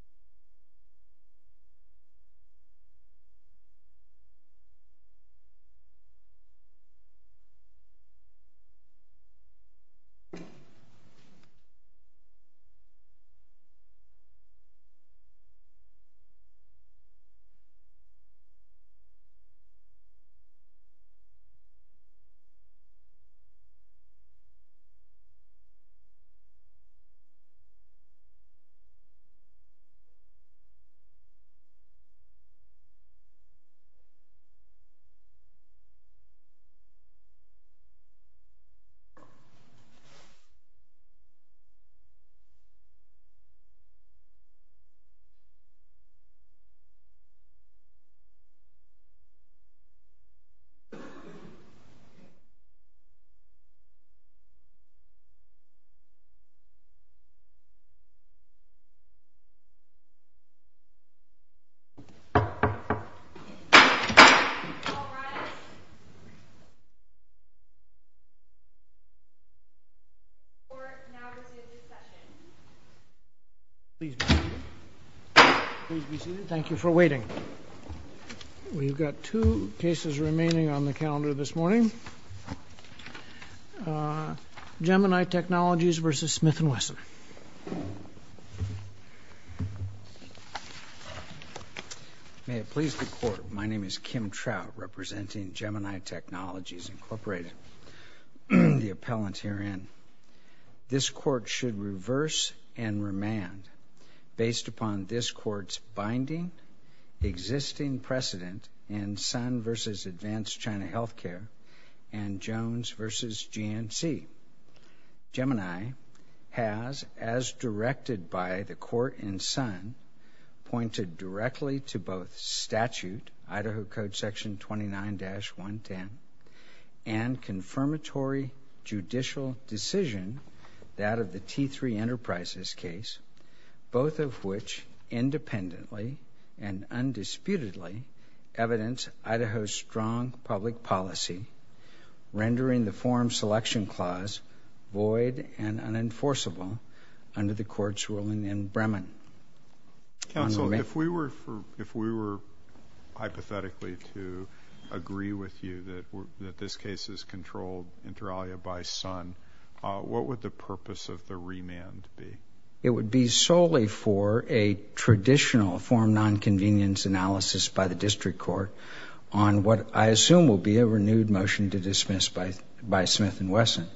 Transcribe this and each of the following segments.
You You You You You Thank you for waiting we've got two cases remaining on the calendar this morning Gemini technologies versus Smith and Wesson May It please the court. My name is Kim trout representing Gemini technologies, Incorporated the appellant herein This court should reverse and remand based upon this courts binding existing precedent in Sun versus Advanced China Healthcare and Jones versus GNC Gemini has as directed by the court in Sun pointed directly to both statute, Idaho Code section 29-1 10 and confirmatory judicial decision that of the t3 enterprises case both of which independently and undisputedly evidence, Idaho strong public policy rendering the forum selection clause void and unenforceable under the courts ruling in Bremen Counselor if we were for if we were Hypothetically to agree with you that that this case is controlled inter alia by Sun what would the purpose of the remand be it would be solely for a traditional form non-convenience analysis by the district court on what I assume will be a renewed motion to dismiss by by Smith and Wesson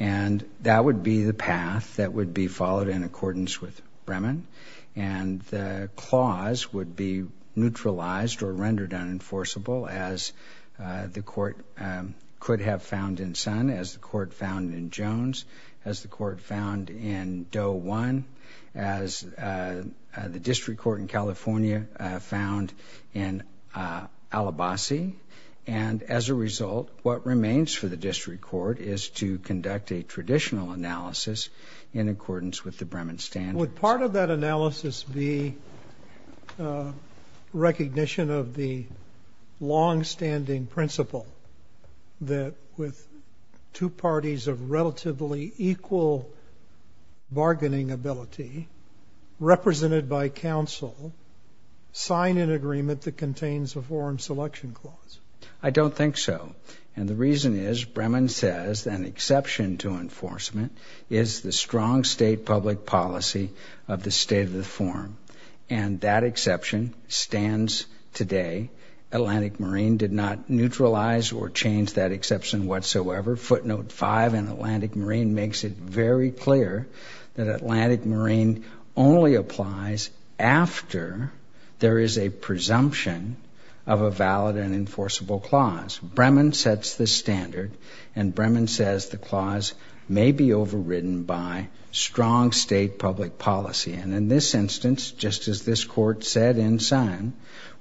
and that would be the path that would be followed in accordance with Bremen and the clause would be neutralized or rendered unenforceable as the court could have found in Sun as the court found in Jones as the court found in Doe one as the district court in California found in Alabaster and as a result what remains for the district court is to conduct a traditional analysis In accordance with the Bremen standard part of that analysis be Recognition of the long-standing principle that with two parties of relatively equal bargaining ability represented by counsel Sign an agreement that contains a foreign selection clause I don't think so and the reason is Bremen says an exception to enforcement is the strong state public policy of the state of the forum and that exception stands today Atlantic Marine did not neutralize or change that exception whatsoever footnote 5 and Atlantic Marine makes it very clear that Atlantic Marine only applies After there is a presumption of a valid and enforceable clause Bremen sets the standard and Bremen says the clause may be overridden by Strong state public policy and in this instance, just as this court said in Sun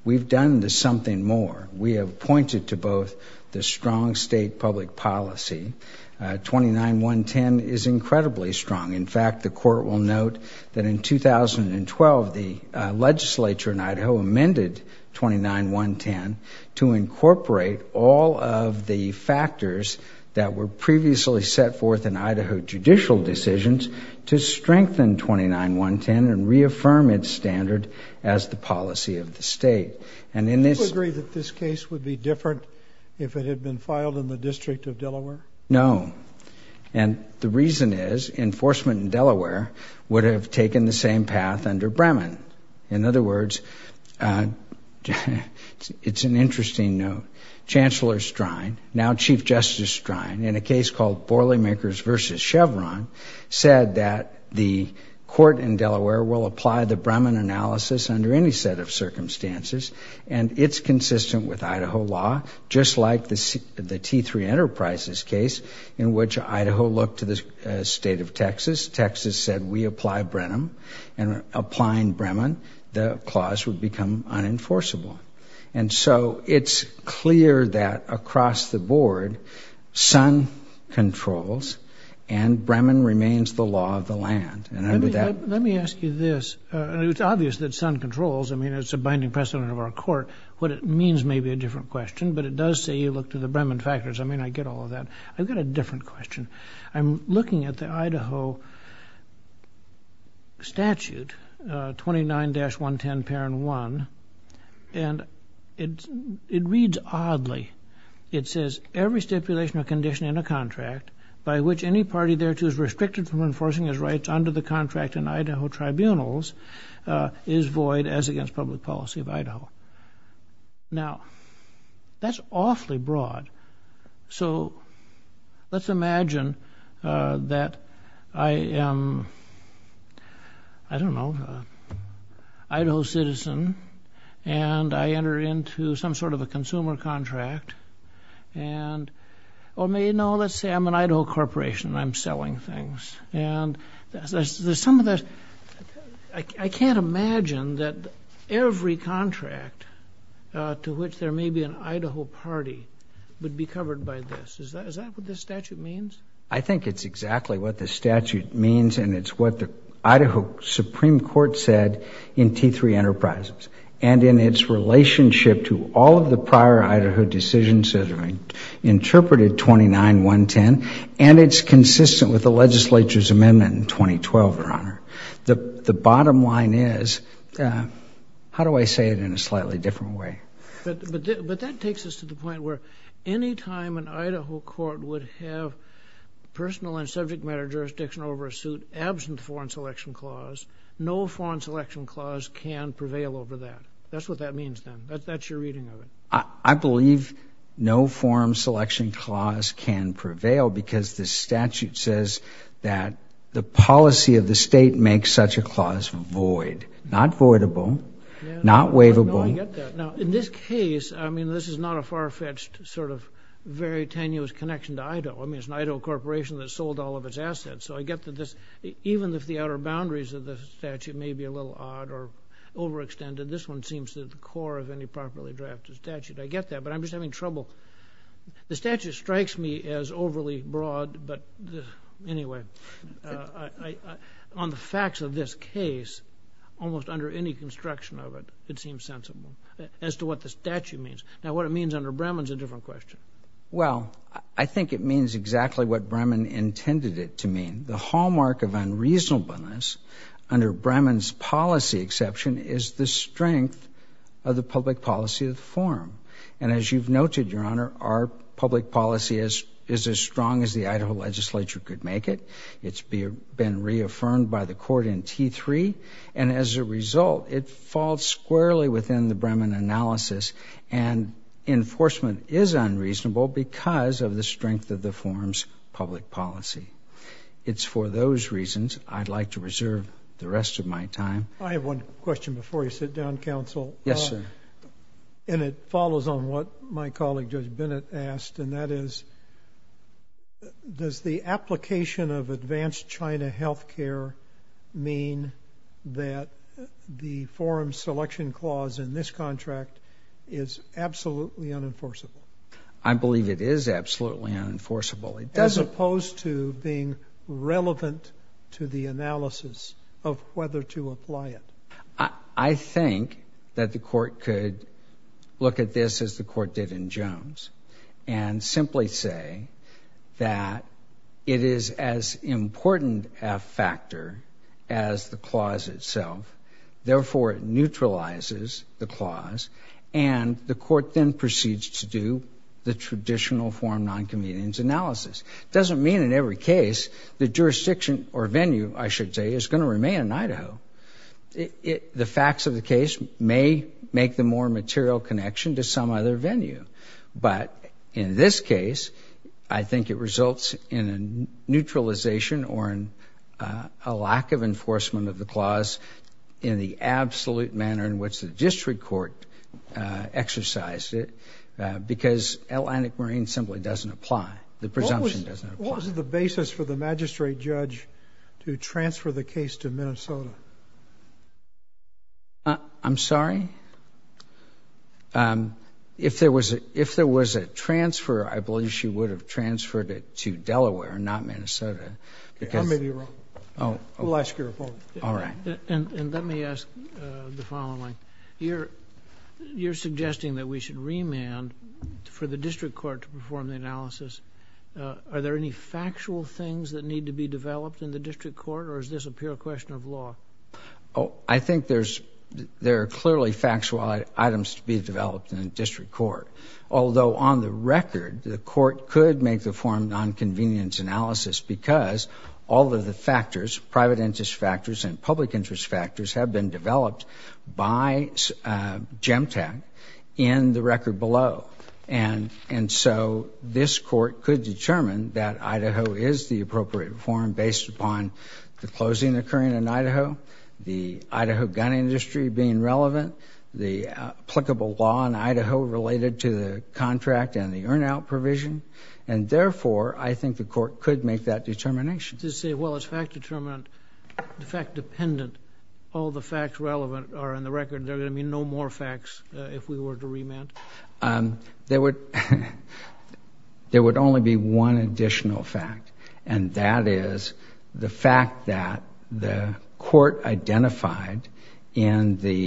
We've done this something more we have pointed to both the strong state public policy 29110 is incredibly strong. In fact, the court will note that in 2012 the legislature in Idaho amended 29110 to incorporate all of the factors that were previously set forth in Idaho judicial decisions to strengthen 29110 and reaffirm its standard as the policy of the state and in this agree that this case would be different If it had been filed in the District of Delaware, no And the reason is enforcement in Delaware would have taken the same path under Bremen in other words It's an interesting note Chancellor Strine now Chief Justice Strine in a case called Borleymakers versus Chevron said that the court in Delaware will apply the Bremen analysis under any set of Idaho looked to the state of Texas, Texas said we apply Brenham and Applying Bremen the clause would become unenforceable. And so it's clear that across the board Sun controls and Bremen remains the law of the land and under that let me ask you this and it's obvious that Sun controls I mean, it's a binding precedent of our court what it means may be a different question But it does say you look to the Bremen factors I mean I get all of that. I've got a different question. I'm looking at the Idaho Statute 29-110 parent one And it's it reads oddly It says every stipulation or condition in a contract by which any party there to is restricted from enforcing his rights under the contract in Idaho tribunals Is void as against public policy of Idaho? now That's awfully broad so Let's imagine that I am I Don't know Idaho citizen and I enter into some sort of a consumer contract and Or may know let's say I'm an Idaho corporation and I'm selling things and there's some of that I Can't imagine that every contract To which there may be an Idaho party would be covered by this Is that is that what this statute means? I think it's exactly what the statute means and it's what the Idaho Supreme Court said in T3 enterprises and in its relationship to all of the prior Idaho decision says I mean Interpreted 29 110 and it's consistent with the legislature's amendment in 2012 or honor. The the bottom line is How do I say it in a slightly different way but but that takes us to the point where any time an Idaho court would have personal and subject matter jurisdiction over a suit absent foreign selection clause No foreign selection clause can prevail over that. That's what that means. Then that's your reading of it I believe no forum selection clause can prevail because the statute says that The policy of the state makes such a clause void not void of oh, not waivable In this case, I mean, this is not a far-fetched sort of very tenuous connection to Idaho I mean, it's an Idaho corporation that sold all of its assets so I get that this even if the outer boundaries of the statute may be a little odd or Overextended this one seems to the core of any properly drafted statute. I get that but I'm just having trouble the statute strikes me as overly broad, but Anyway On the facts of this case Almost under any construction of it It seems sensible as to what the statute means now what it means under Bremen's a different question Well, I think it means exactly what Bremen intended it to mean the hallmark of unreasonableness Under Bremen's policy exception is the strength of the public policy of the forum And as you've noted your honor our public policy is is as strong as the Idaho legislature could make it it's been reaffirmed by the court in t3 and as a result it falls squarely within the Bremen analysis and Enforcement is unreasonable because of the strength of the forum's public policy It's for those reasons. I'd like to reserve the rest of my time. I have one question before you sit down counsel. Yes, sir And it follows on what my colleague judge Bennett asked and that is Does the application of advanced China health care mean that the forum selection clause in this contract is Absolutely unenforceable. I believe it is absolutely unenforceable as opposed to being Relevant to the analysis of whether to apply it. I Think that the court could look at this as the court did in Jones and simply say that It is as important a factor as the clause itself therefore it neutralizes the clause and The court then proceeds to do the traditional forum non-convenience analysis It doesn't mean in every case the jurisdiction or venue I should say is going to remain in Idaho It the facts of the case may make the more material connection to some other venue but in this case, I think it results in a neutralization or in a lack of enforcement of the clause in the absolute manner in which the district court exercised it Because Atlantic Marine simply doesn't apply the presumption doesn't apply the basis for the magistrate judge To transfer the case to Minnesota I'm sorry If there was a if there was a transfer I believe she would have transferred it to Delaware not, Minnesota I may be wrong. Oh, we'll ask your phone. All right, and let me ask the following here You're suggesting that we should remand for the district court to perform the analysis Are there any factual things that need to be developed in the district court, or is this a pure question of law? Oh, I think there's There are clearly factual items to be developed in a district court although on the record the court could make the forum non-convenience analysis because all of the factors private interest factors and public interest factors have been developed by GEMTAC in the record below and and so this court could determine that Idaho is the appropriate form based upon the closing occurring in Idaho the Idaho gun industry being relevant the applicable law in Idaho related to the contract and the earn out provision and Therefore, I think the court could make that determination to say well, it's fact-determinant Fact-dependent all the facts relevant are in the record. There are gonna be no more facts if we were to remand there would there would only be one additional fact and that is the fact that the court identified in the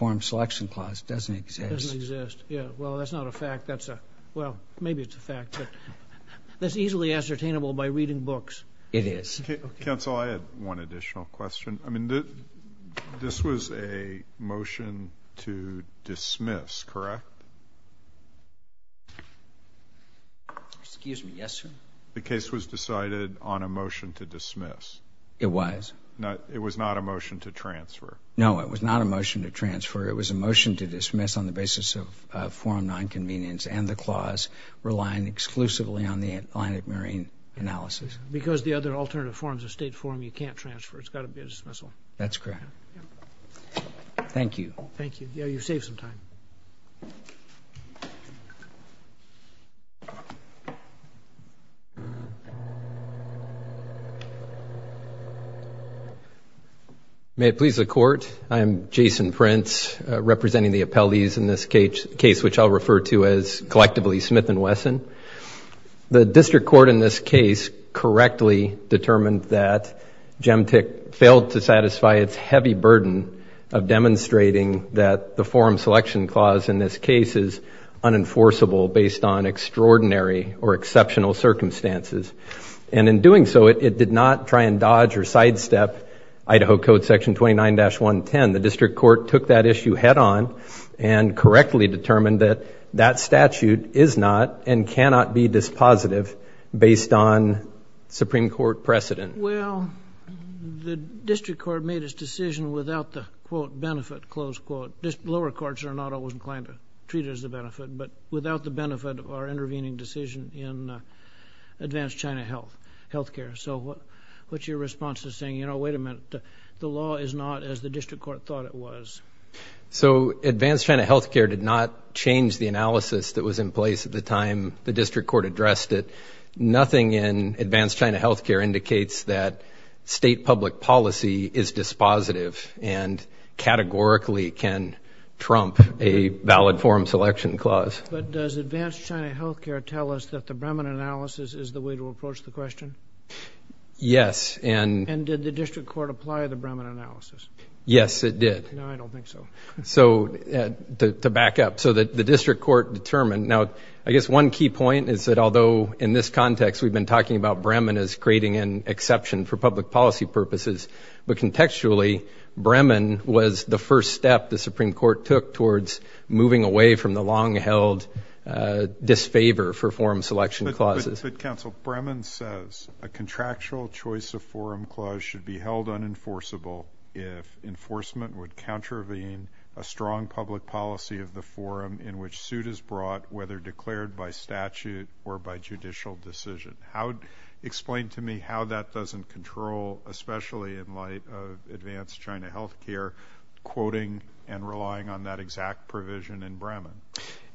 Forum selection clause doesn't exist Well, that's not a fact. That's a well, maybe it's a fact That's easily ascertainable by reading books it is Additional question. I mean that this was a motion to dismiss, correct? Excuse me. Yes, sir. The case was decided on a motion to dismiss It was not it was not a motion to transfer. No, it was not a motion to transfer It was a motion to dismiss on the basis of forum non-convenience and the clause Relying exclusively on the Atlantic Marine analysis because the other alternative forms of state forum. You can't transfer. It's gotta be a dismissal. That's correct Thank you. Thank you. Yeah, you save some time May it please the court I am Jason Prince Representing the appellees in this case case, which I'll refer to as collectively Smith and Wesson the district court in this case correctly determined that gemtick failed to satisfy its heavy burden of demonstrating that the forum selection clause in this case is unenforceable based on extraordinary or exceptional circumstances and in doing so it did not try and dodge or sidestep Idaho Code section 29-1 10 the district court took that issue head-on and Correctly determined that that statute is not and cannot be dispositive based on Supreme Court precedent. Well The district court made his decision without the quote benefit close quote this lower courts are not always inclined to treat it as the benefit, but without the benefit of our intervening decision in Advanced China health health care. So what what's your response to saying? You know, wait a minute. The law is not as the district court thought it was So advanced China health care did not change the analysis that was in place at the time the district court addressed it nothing in advanced China health care indicates that state public policy is dispositive and categorically can Trump a valid forum selection clause Yes, and Yes, it did so To back up so that the district court determined now I guess one key point is that although in this context we've been talking about Bremen is creating an exception for public policy purposes but contextually Bremen was the first step. The Supreme Court took towards moving away from the long-held disfavor for forum selection clauses Bremen says a contractual choice of forum clause should be held unenforceable if Enforcement would contravene a strong public policy of the forum in which suit is brought whether declared by statute or by judicial decision how Explained to me how that doesn't control especially in light of advanced China health care Quoting and relying on that exact provision in Bremen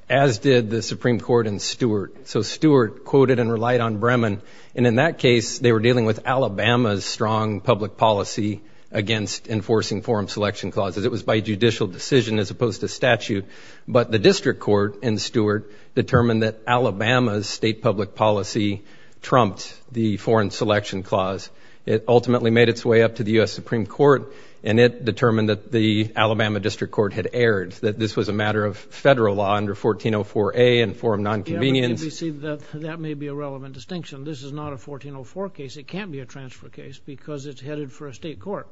as did the Supreme Court and Stewart So Stewart quoted and relied on Bremen and in that case they were dealing with Alabama's strong public policy Against enforcing forum selection clauses. It was by judicial decision as opposed to statute But the district court and Stewart determined that Alabama's state public policy Trumped the foreign selection clause it ultimately made its way up to the US Supreme Court and it determined that the Alabama district court had aired that this was a matter of federal law under 1404 a and forum non-convenience That may be a relevant distinction. This is not a 1404 case It can't be a transfer case because it's headed for a state court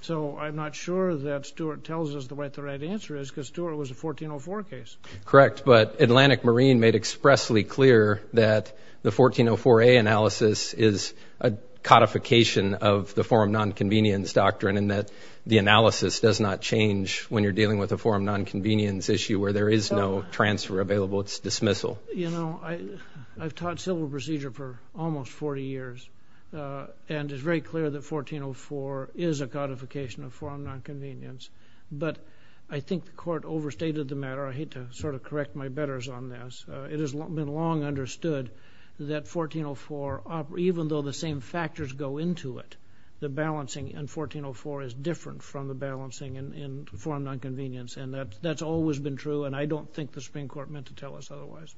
So I'm not sure that Stewart tells us the right the right answer is because Stuart was a 1404 case, correct? but Atlantic Marine made expressly clear that the 1404 a analysis is a Codification of the forum non-convenience doctrine and that the analysis does not change when you're dealing with a forum Non-convenience issue where there is no transfer available. It's dismissal. You know, I I've taught civil procedure for almost 40 years And it's very clear that 1404 is a codification of forum non-convenience But I think the court overstated the matter I hate to sort of correct my betters on this it has been long understood that 1404 up even though the same factors go into it the balancing and 1404 is different from the balancing in Forum non-convenience and that that's always been true. And I don't think the Supreme Court meant to tell us otherwise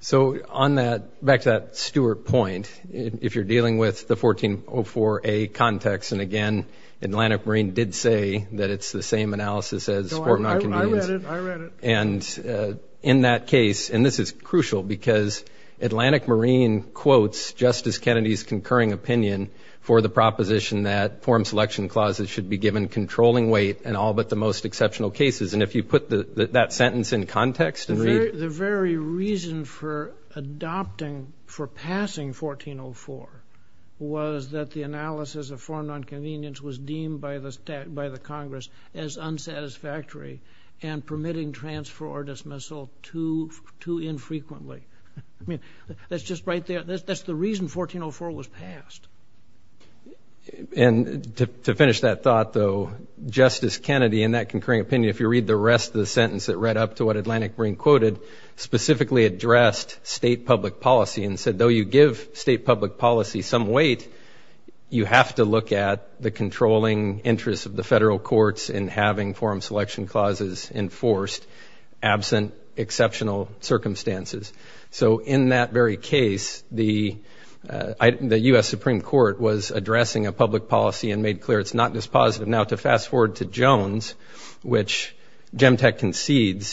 So on that back to that Stewart point if you're dealing with the 1404 a context and again Atlantic Marine did say that it's the same analysis as and in that case and this is crucial because Atlantic Marine quotes Justice Kennedy's concurring opinion for the proposition that forum selection clauses should be given Controlling weight and all but the most exceptional cases and if you put the that sentence in context and read the very reason for adopting for passing 1404 was that the analysis of forum non-convenience was deemed by the stat by the Congress as unsatisfactory and permitting transfer or dismissal to to infrequently I mean, that's just right there. That's the reason 1404 was passed And to finish that thought though Justice Kennedy in that concurring opinion if you read the rest of the sentence that read up to what Atlantic Marine quoted Specifically addressed state public policy and said though you give state public policy some weight You have to look at the controlling interests of the federal courts in having forum selection clauses enforced absent exceptional circumstances so in that very case the The US Supreme Court was addressing a public policy and made clear. It's not dispositive now to fast-forward to Jones Which gem tech concedes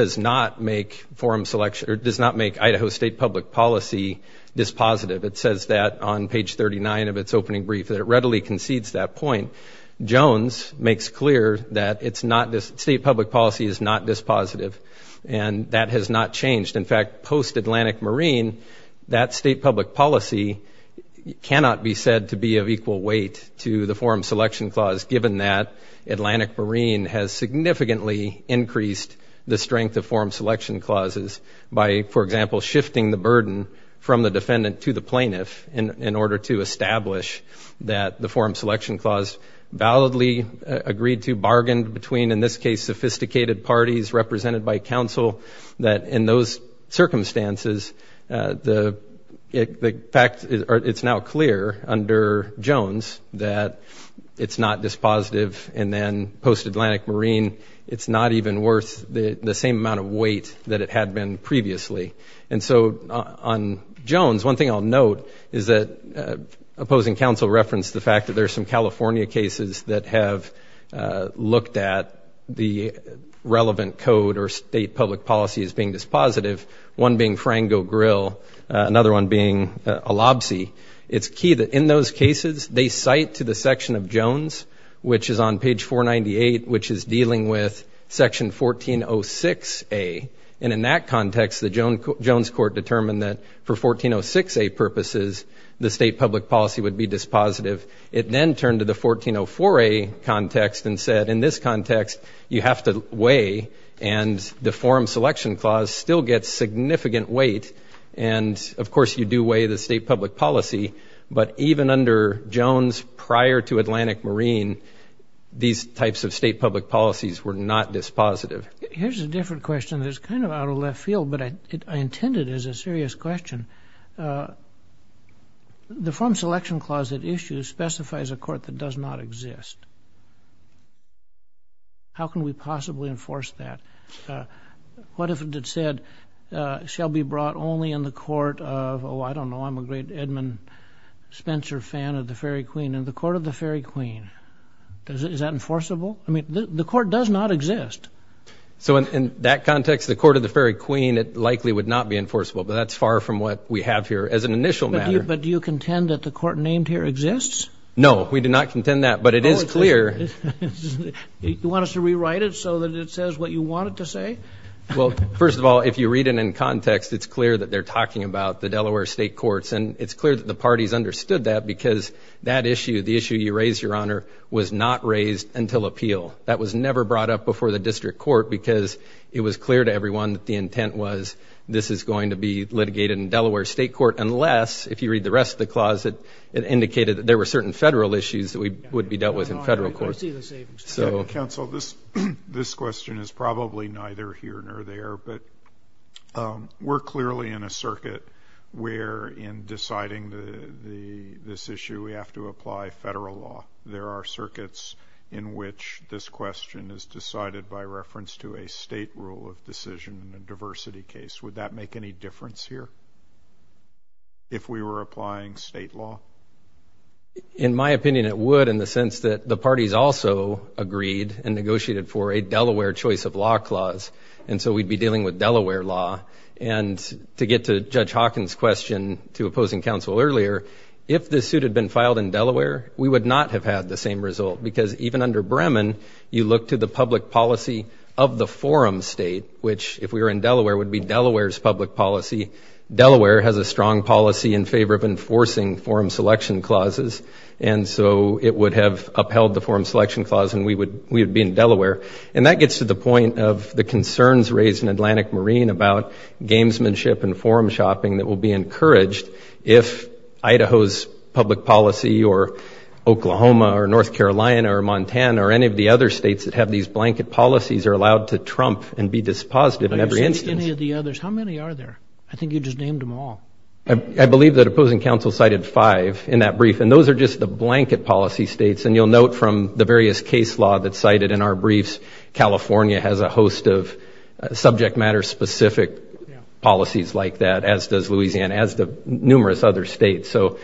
does not make forum selection or does not make Idaho State public policy Dispositive it says that on page 39 of its opening brief that it readily concedes that point Jones makes clear that it's not this state public policy is not dispositive and that has not changed in fact post Atlantic Marine that state public policy Cannot be said to be of equal weight to the forum selection clause given that Atlantic Marine has significantly Increased the strength of forum selection clauses by for example Shifting the burden from the defendant to the plaintiff in order to establish that the forum selection clause Validly agreed to bargained between in this case sophisticated parties represented by counsel that in those circumstances the The fact is it's now clear under Jones that It's not dispositive and then post Atlantic Marine it's not even worth the the same amount of weight that it had been previously and so on Jones one thing I'll note is that opposing counsel referenced the fact that there's some California cases that have looked at the State-public policy as being dispositive one being frango grill another one being a lobsy It's key that in those cases. They cite to the section of Jones, which is on page 498, which is dealing with section 1406 a and in that context the Joan Jones court determined that for 1406 a purposes the state public policy would be dispositive it then turned to the 1404 a context and said in this context you have to weigh and deform selection clause still gets significant weight and Of course you do weigh the state public policy, but even under Jones prior to Atlantic Marine These types of state public policies were not dispositive. Here's a different question There's kind of out of left field, but I intended as a serious question The form selection clause that issues specifies a court that does not exist How can we possibly enforce that What if it said? Shall be brought only in the court of oh, I don't know. I'm a great Edmund Spencer fan of the Fairy Queen and the Court of the Fairy Queen Does it is that enforceable? I mean the court does not exist So in that context the Court of the Fairy Queen it likely would not be enforceable But that's far from what we have here as an initial matter, but do you contend that the court named here exists? No, we do not contend that but it is clear You want us to rewrite it so that it says what you want it to say well first of all if you read it in context It's clear that they're talking about the Delaware state courts And it's clear that the parties understood that because that issue the issue you raised your honor was not raised until appeal That was never brought up before the district court because it was clear to everyone that the intent was This is going to be litigated in Delaware State Court unless if you read the rest of the closet It indicated that there were certain federal issues that we would be dealt with in federal court so council this this question is probably neither here nor there, but We're clearly in a circuit where in deciding the the this issue We have to apply federal law there are circuits in which this question is decided by reference to a state rule of Decision in a diversity case would that make any difference here? If we were applying state law In my opinion it would in the sense that the parties also agreed and negotiated for a Delaware choice of law clause and so we'd be dealing with Delaware law and To get to judge Hawkins question to opposing counsel earlier if this suit had been filed in Delaware We would not have had the same result because even under Bremen you look to the public policy of the forum state Which if we were in Delaware would be Delaware's public policy Delaware has a strong policy in favor of enforcing forum selection clauses and so it would have upheld the forum selection clause and we would we would be in Delaware and that gets to the point of the concerns raised in Atlantic Marine about gamesmanship and forum shopping that will be encouraged if Idaho's public policy or The others how many are there I think you just named them all I Believe that opposing counsel cited five in that brief And those are just the blanket policy states and you'll note from the various case law that cited in our briefs California has a host of subject matter specific policies like that as does Louisiana as the numerous other states so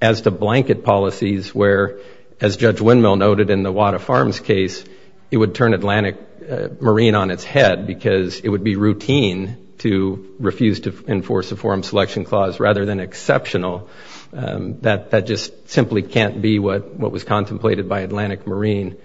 as to blanket policies where as Judge windmill noted in the water farms case it would turn Atlantic Marine on its head because it would be routine to refuse to enforce a forum selection clause rather than exceptional That that just simply can't be what what was contemplated by Atlantic Marine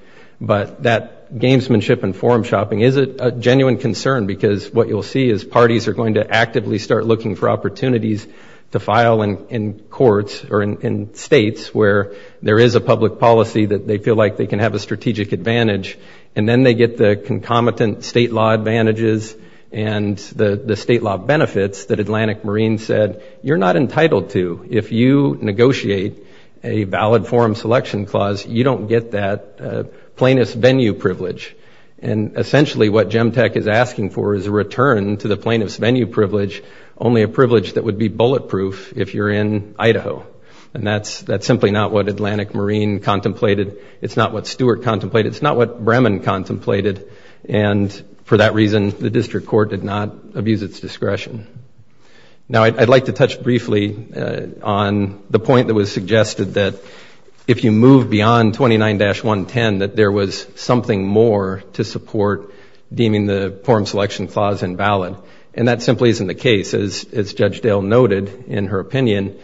But that gamesmanship and forum shopping is it a genuine concern because what you'll see is parties are going to actively start looking for opportunities to file and in courts or in states where there is a public policy that they feel like they can have a strategic advantage and then they get the concomitant state law advantages and the the state law benefits that Atlantic Marine said you're not entitled to if you negotiate a valid forum selection clause you don't get that plaintiff's venue privilege and Essentially what gem tech is asking for is a return to the plaintiff's venue privilege Only a privilege that would be bulletproof if you're in Idaho, and that's that's simply not what Atlantic Marine contemplated It's not what Stewart contemplated. It's not what Bremen contemplated and For that reason the district court did not abuse its discretion Now I'd like to touch briefly on the point that was suggested that if you move beyond 29-110 that there was something more to support Deeming the forum selection clause invalid and that simply isn't the case as Judge Dale noted in her opinion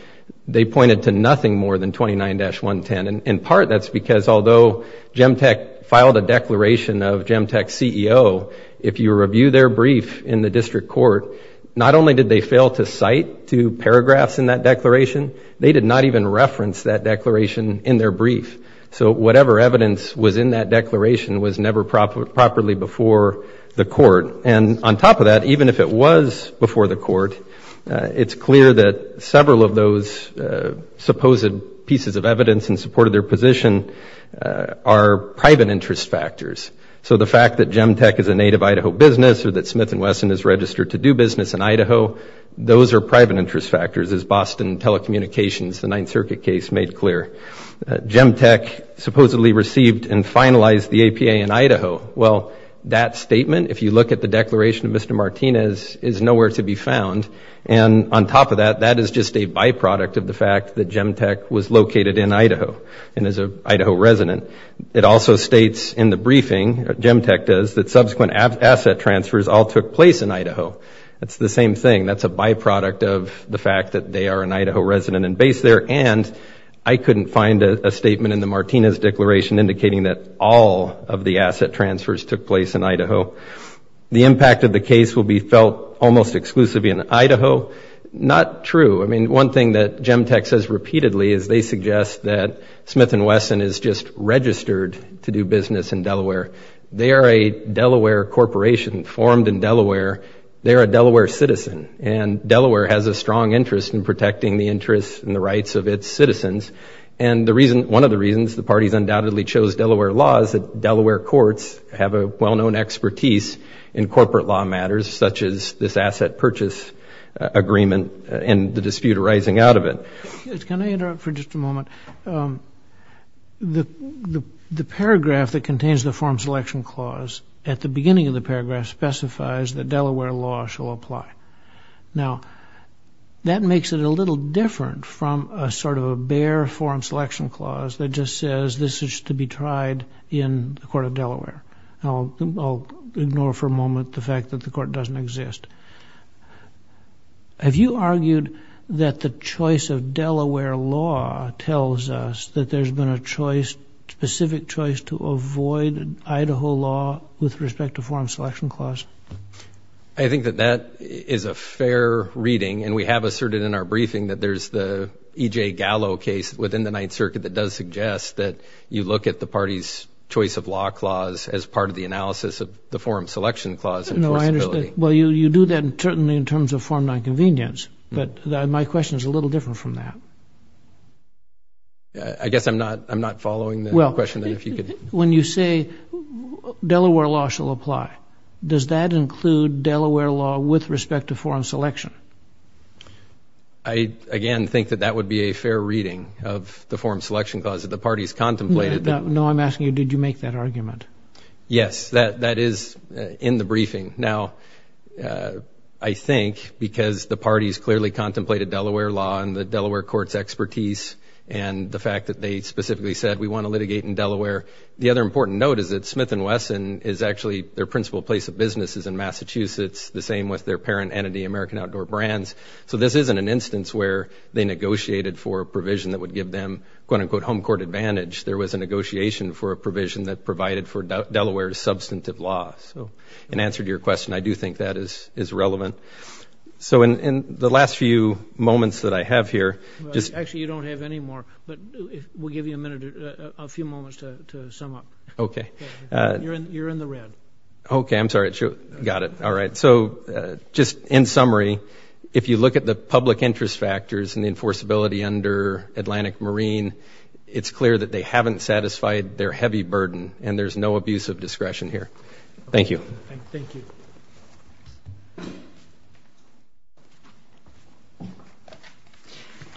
They pointed to nothing more than 29-110 and in part that's because although Gem tech filed a declaration of gem tech CEO if you review their brief in the district court Not only did they fail to cite two paragraphs in that declaration They did not even reference that declaration in their brief So whatever evidence was in that declaration was never proper properly before The court and on top of that even if it was before the court It's clear that several of those supposed pieces of evidence in support of their position Are private interest factors. So the fact that gem tech is a native Idaho business or that Smith and Wesson is registered to do business in Idaho those are private interest factors as Boston telecommunications the Ninth Circuit case made clear Gem tech supposedly received and finalized the APA in Idaho Well that statement if you look at the declaration of mr Martinez is nowhere to be found and On top of that that is just a byproduct of the fact that gem tech was located in Idaho and as a Idaho resident It also states in the briefing gem tech does that subsequent asset transfers all took place in Idaho. That's the same thing that's a byproduct of the fact that they are in Idaho resident and base there and I Couldn't find a statement in the Martinez declaration indicating that all of the asset transfers took place in Idaho The impact of the case will be felt almost exclusively in Idaho. Not true I mean one thing that gem tech says repeatedly is they suggest that Smith and Wesson is just registered to do business in Delaware. They are a Delaware corporation formed in Delaware they're a Delaware citizen and Interests and the rights of its citizens and the reason one of the reasons the party's undoubtedly chose Delaware laws that Delaware courts have a well-known expertise in corporate law matters such as this asset purchase Agreement and the dispute arising out of it The the paragraph that contains the form selection clause at the beginning of the paragraph specifies that Delaware law shall apply now That makes it a little different from a sort of a bare form selection clause That just says this is to be tried in the court of Delaware I'll ignore for a moment the fact that the court doesn't exist Have you argued that the choice of Delaware law tells us that there's been a choice specific choice to avoid Idaho law with respect to form selection clause. I And we have asserted in our briefing that there's the EJ Gallo case within the Ninth Circuit that does suggest that you look at the Party's choice of law clause as part of the analysis of the forum selection clause Well, you you do that and certainly in terms of form non-convenience, but my question is a little different from that Yeah, I guess I'm not I'm not following the question if you could when you say Delaware law shall apply does that include Delaware law with respect to foreign selection? I Again, think that that would be a fair reading of the forum selection clause that the parties contemplated. No, I'm asking you Did you make that argument? Yes that that is in the briefing now I think because the parties clearly contemplated Delaware law and the Delaware courts expertise and The fact that they specifically said we want to litigate in Delaware The other important note is that Smith and Wesson is actually their principal place of business is in Massachusetts It's the same with their parent entity American Outdoor Brands So this isn't an instance where they negotiated for a provision that would give them quote-unquote home court advantage There was a negotiation for a provision that provided for Delaware's substantive law. So in answer to your question I do think that is is relevant So in the last few moments that I have here just actually you don't have any more But we'll give you a minute a few moments to sum up. Okay, you're in you're in the red Okay, I'm sorry it got it. All right So just in summary, if you look at the public interest factors and the enforceability under Atlantic Marine It's clear that they haven't satisfied their heavy burden and there's no abuse of discretion here. Thank you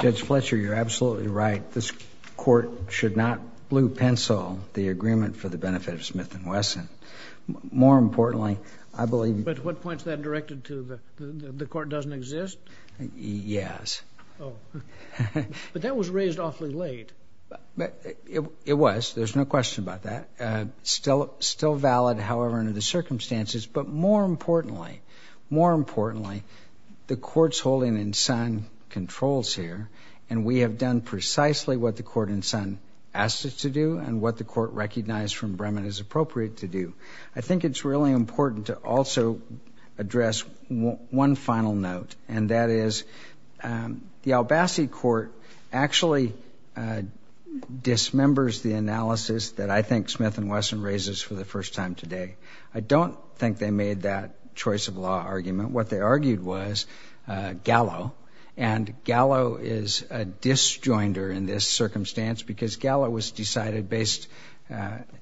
Judge Fletcher, you're absolutely right. This court should not blue pencil the agreement for the benefit of Smith and Wesson More importantly, I believe but what points that directed to the the court doesn't exist. Yes But that was raised awfully late But it was there's no question about that Still still valid. However under the circumstances, but more importantly more importantly the courts holding in Sun Controls here and we have done precisely what the court in Sun Asked us to do and what the court recognized from Bremen is appropriate to do. I think it's really important to also address one final note and that is the Albassey court actually Dismembers the analysis that I think Smith and Wesson raises for the first time today I don't think they made that choice of law argument what they argued was gallo and Gallo is a disjoinder in this circumstance because gallo was decided based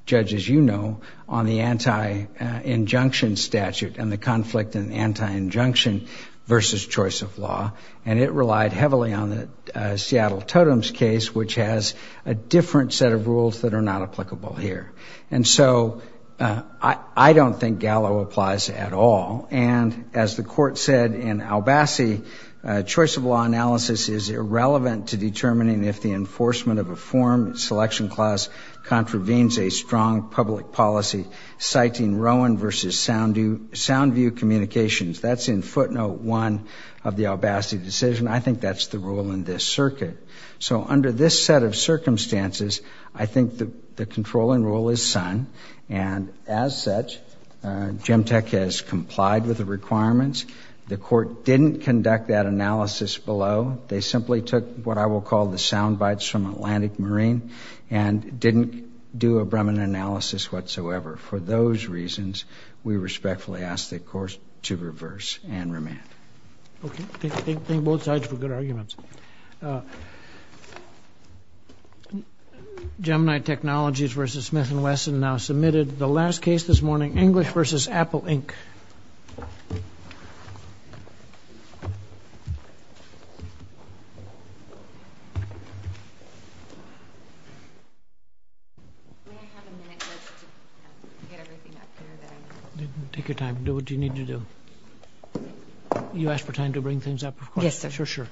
Judge as you know on the anti injunction statute and the conflict in the anti injunction versus choice of law and it relied heavily on the Seattle totems case which has a different set of rules that are not applicable here. And so I Don't think gallo applies at all. And as the court said in Albassey Choice of law analysis is irrelevant to determining if the enforcement of a form selection clause contravenes a strong public policy citing Rowan versus sound you sound view communications That's in footnote one of the Albassey decision. I think that's the rule in this circuit So under this set of circumstances, I think that the controlling role is Sun and as such Gemtech has complied with the requirements. The court didn't conduct that analysis below they simply took what I will call the sound bites from Atlantic Marine and Didn't do a Bremen analysis whatsoever for those reasons. We respectfully ask the course to reverse and remand Thank both sides for good arguments Gemini technologies versus Smith and Wesson now submitted the last case this morning English versus Apple Inc I Take your time do what you need to do you ask for time to bring things up? Yes. Sure. Sure. Yeah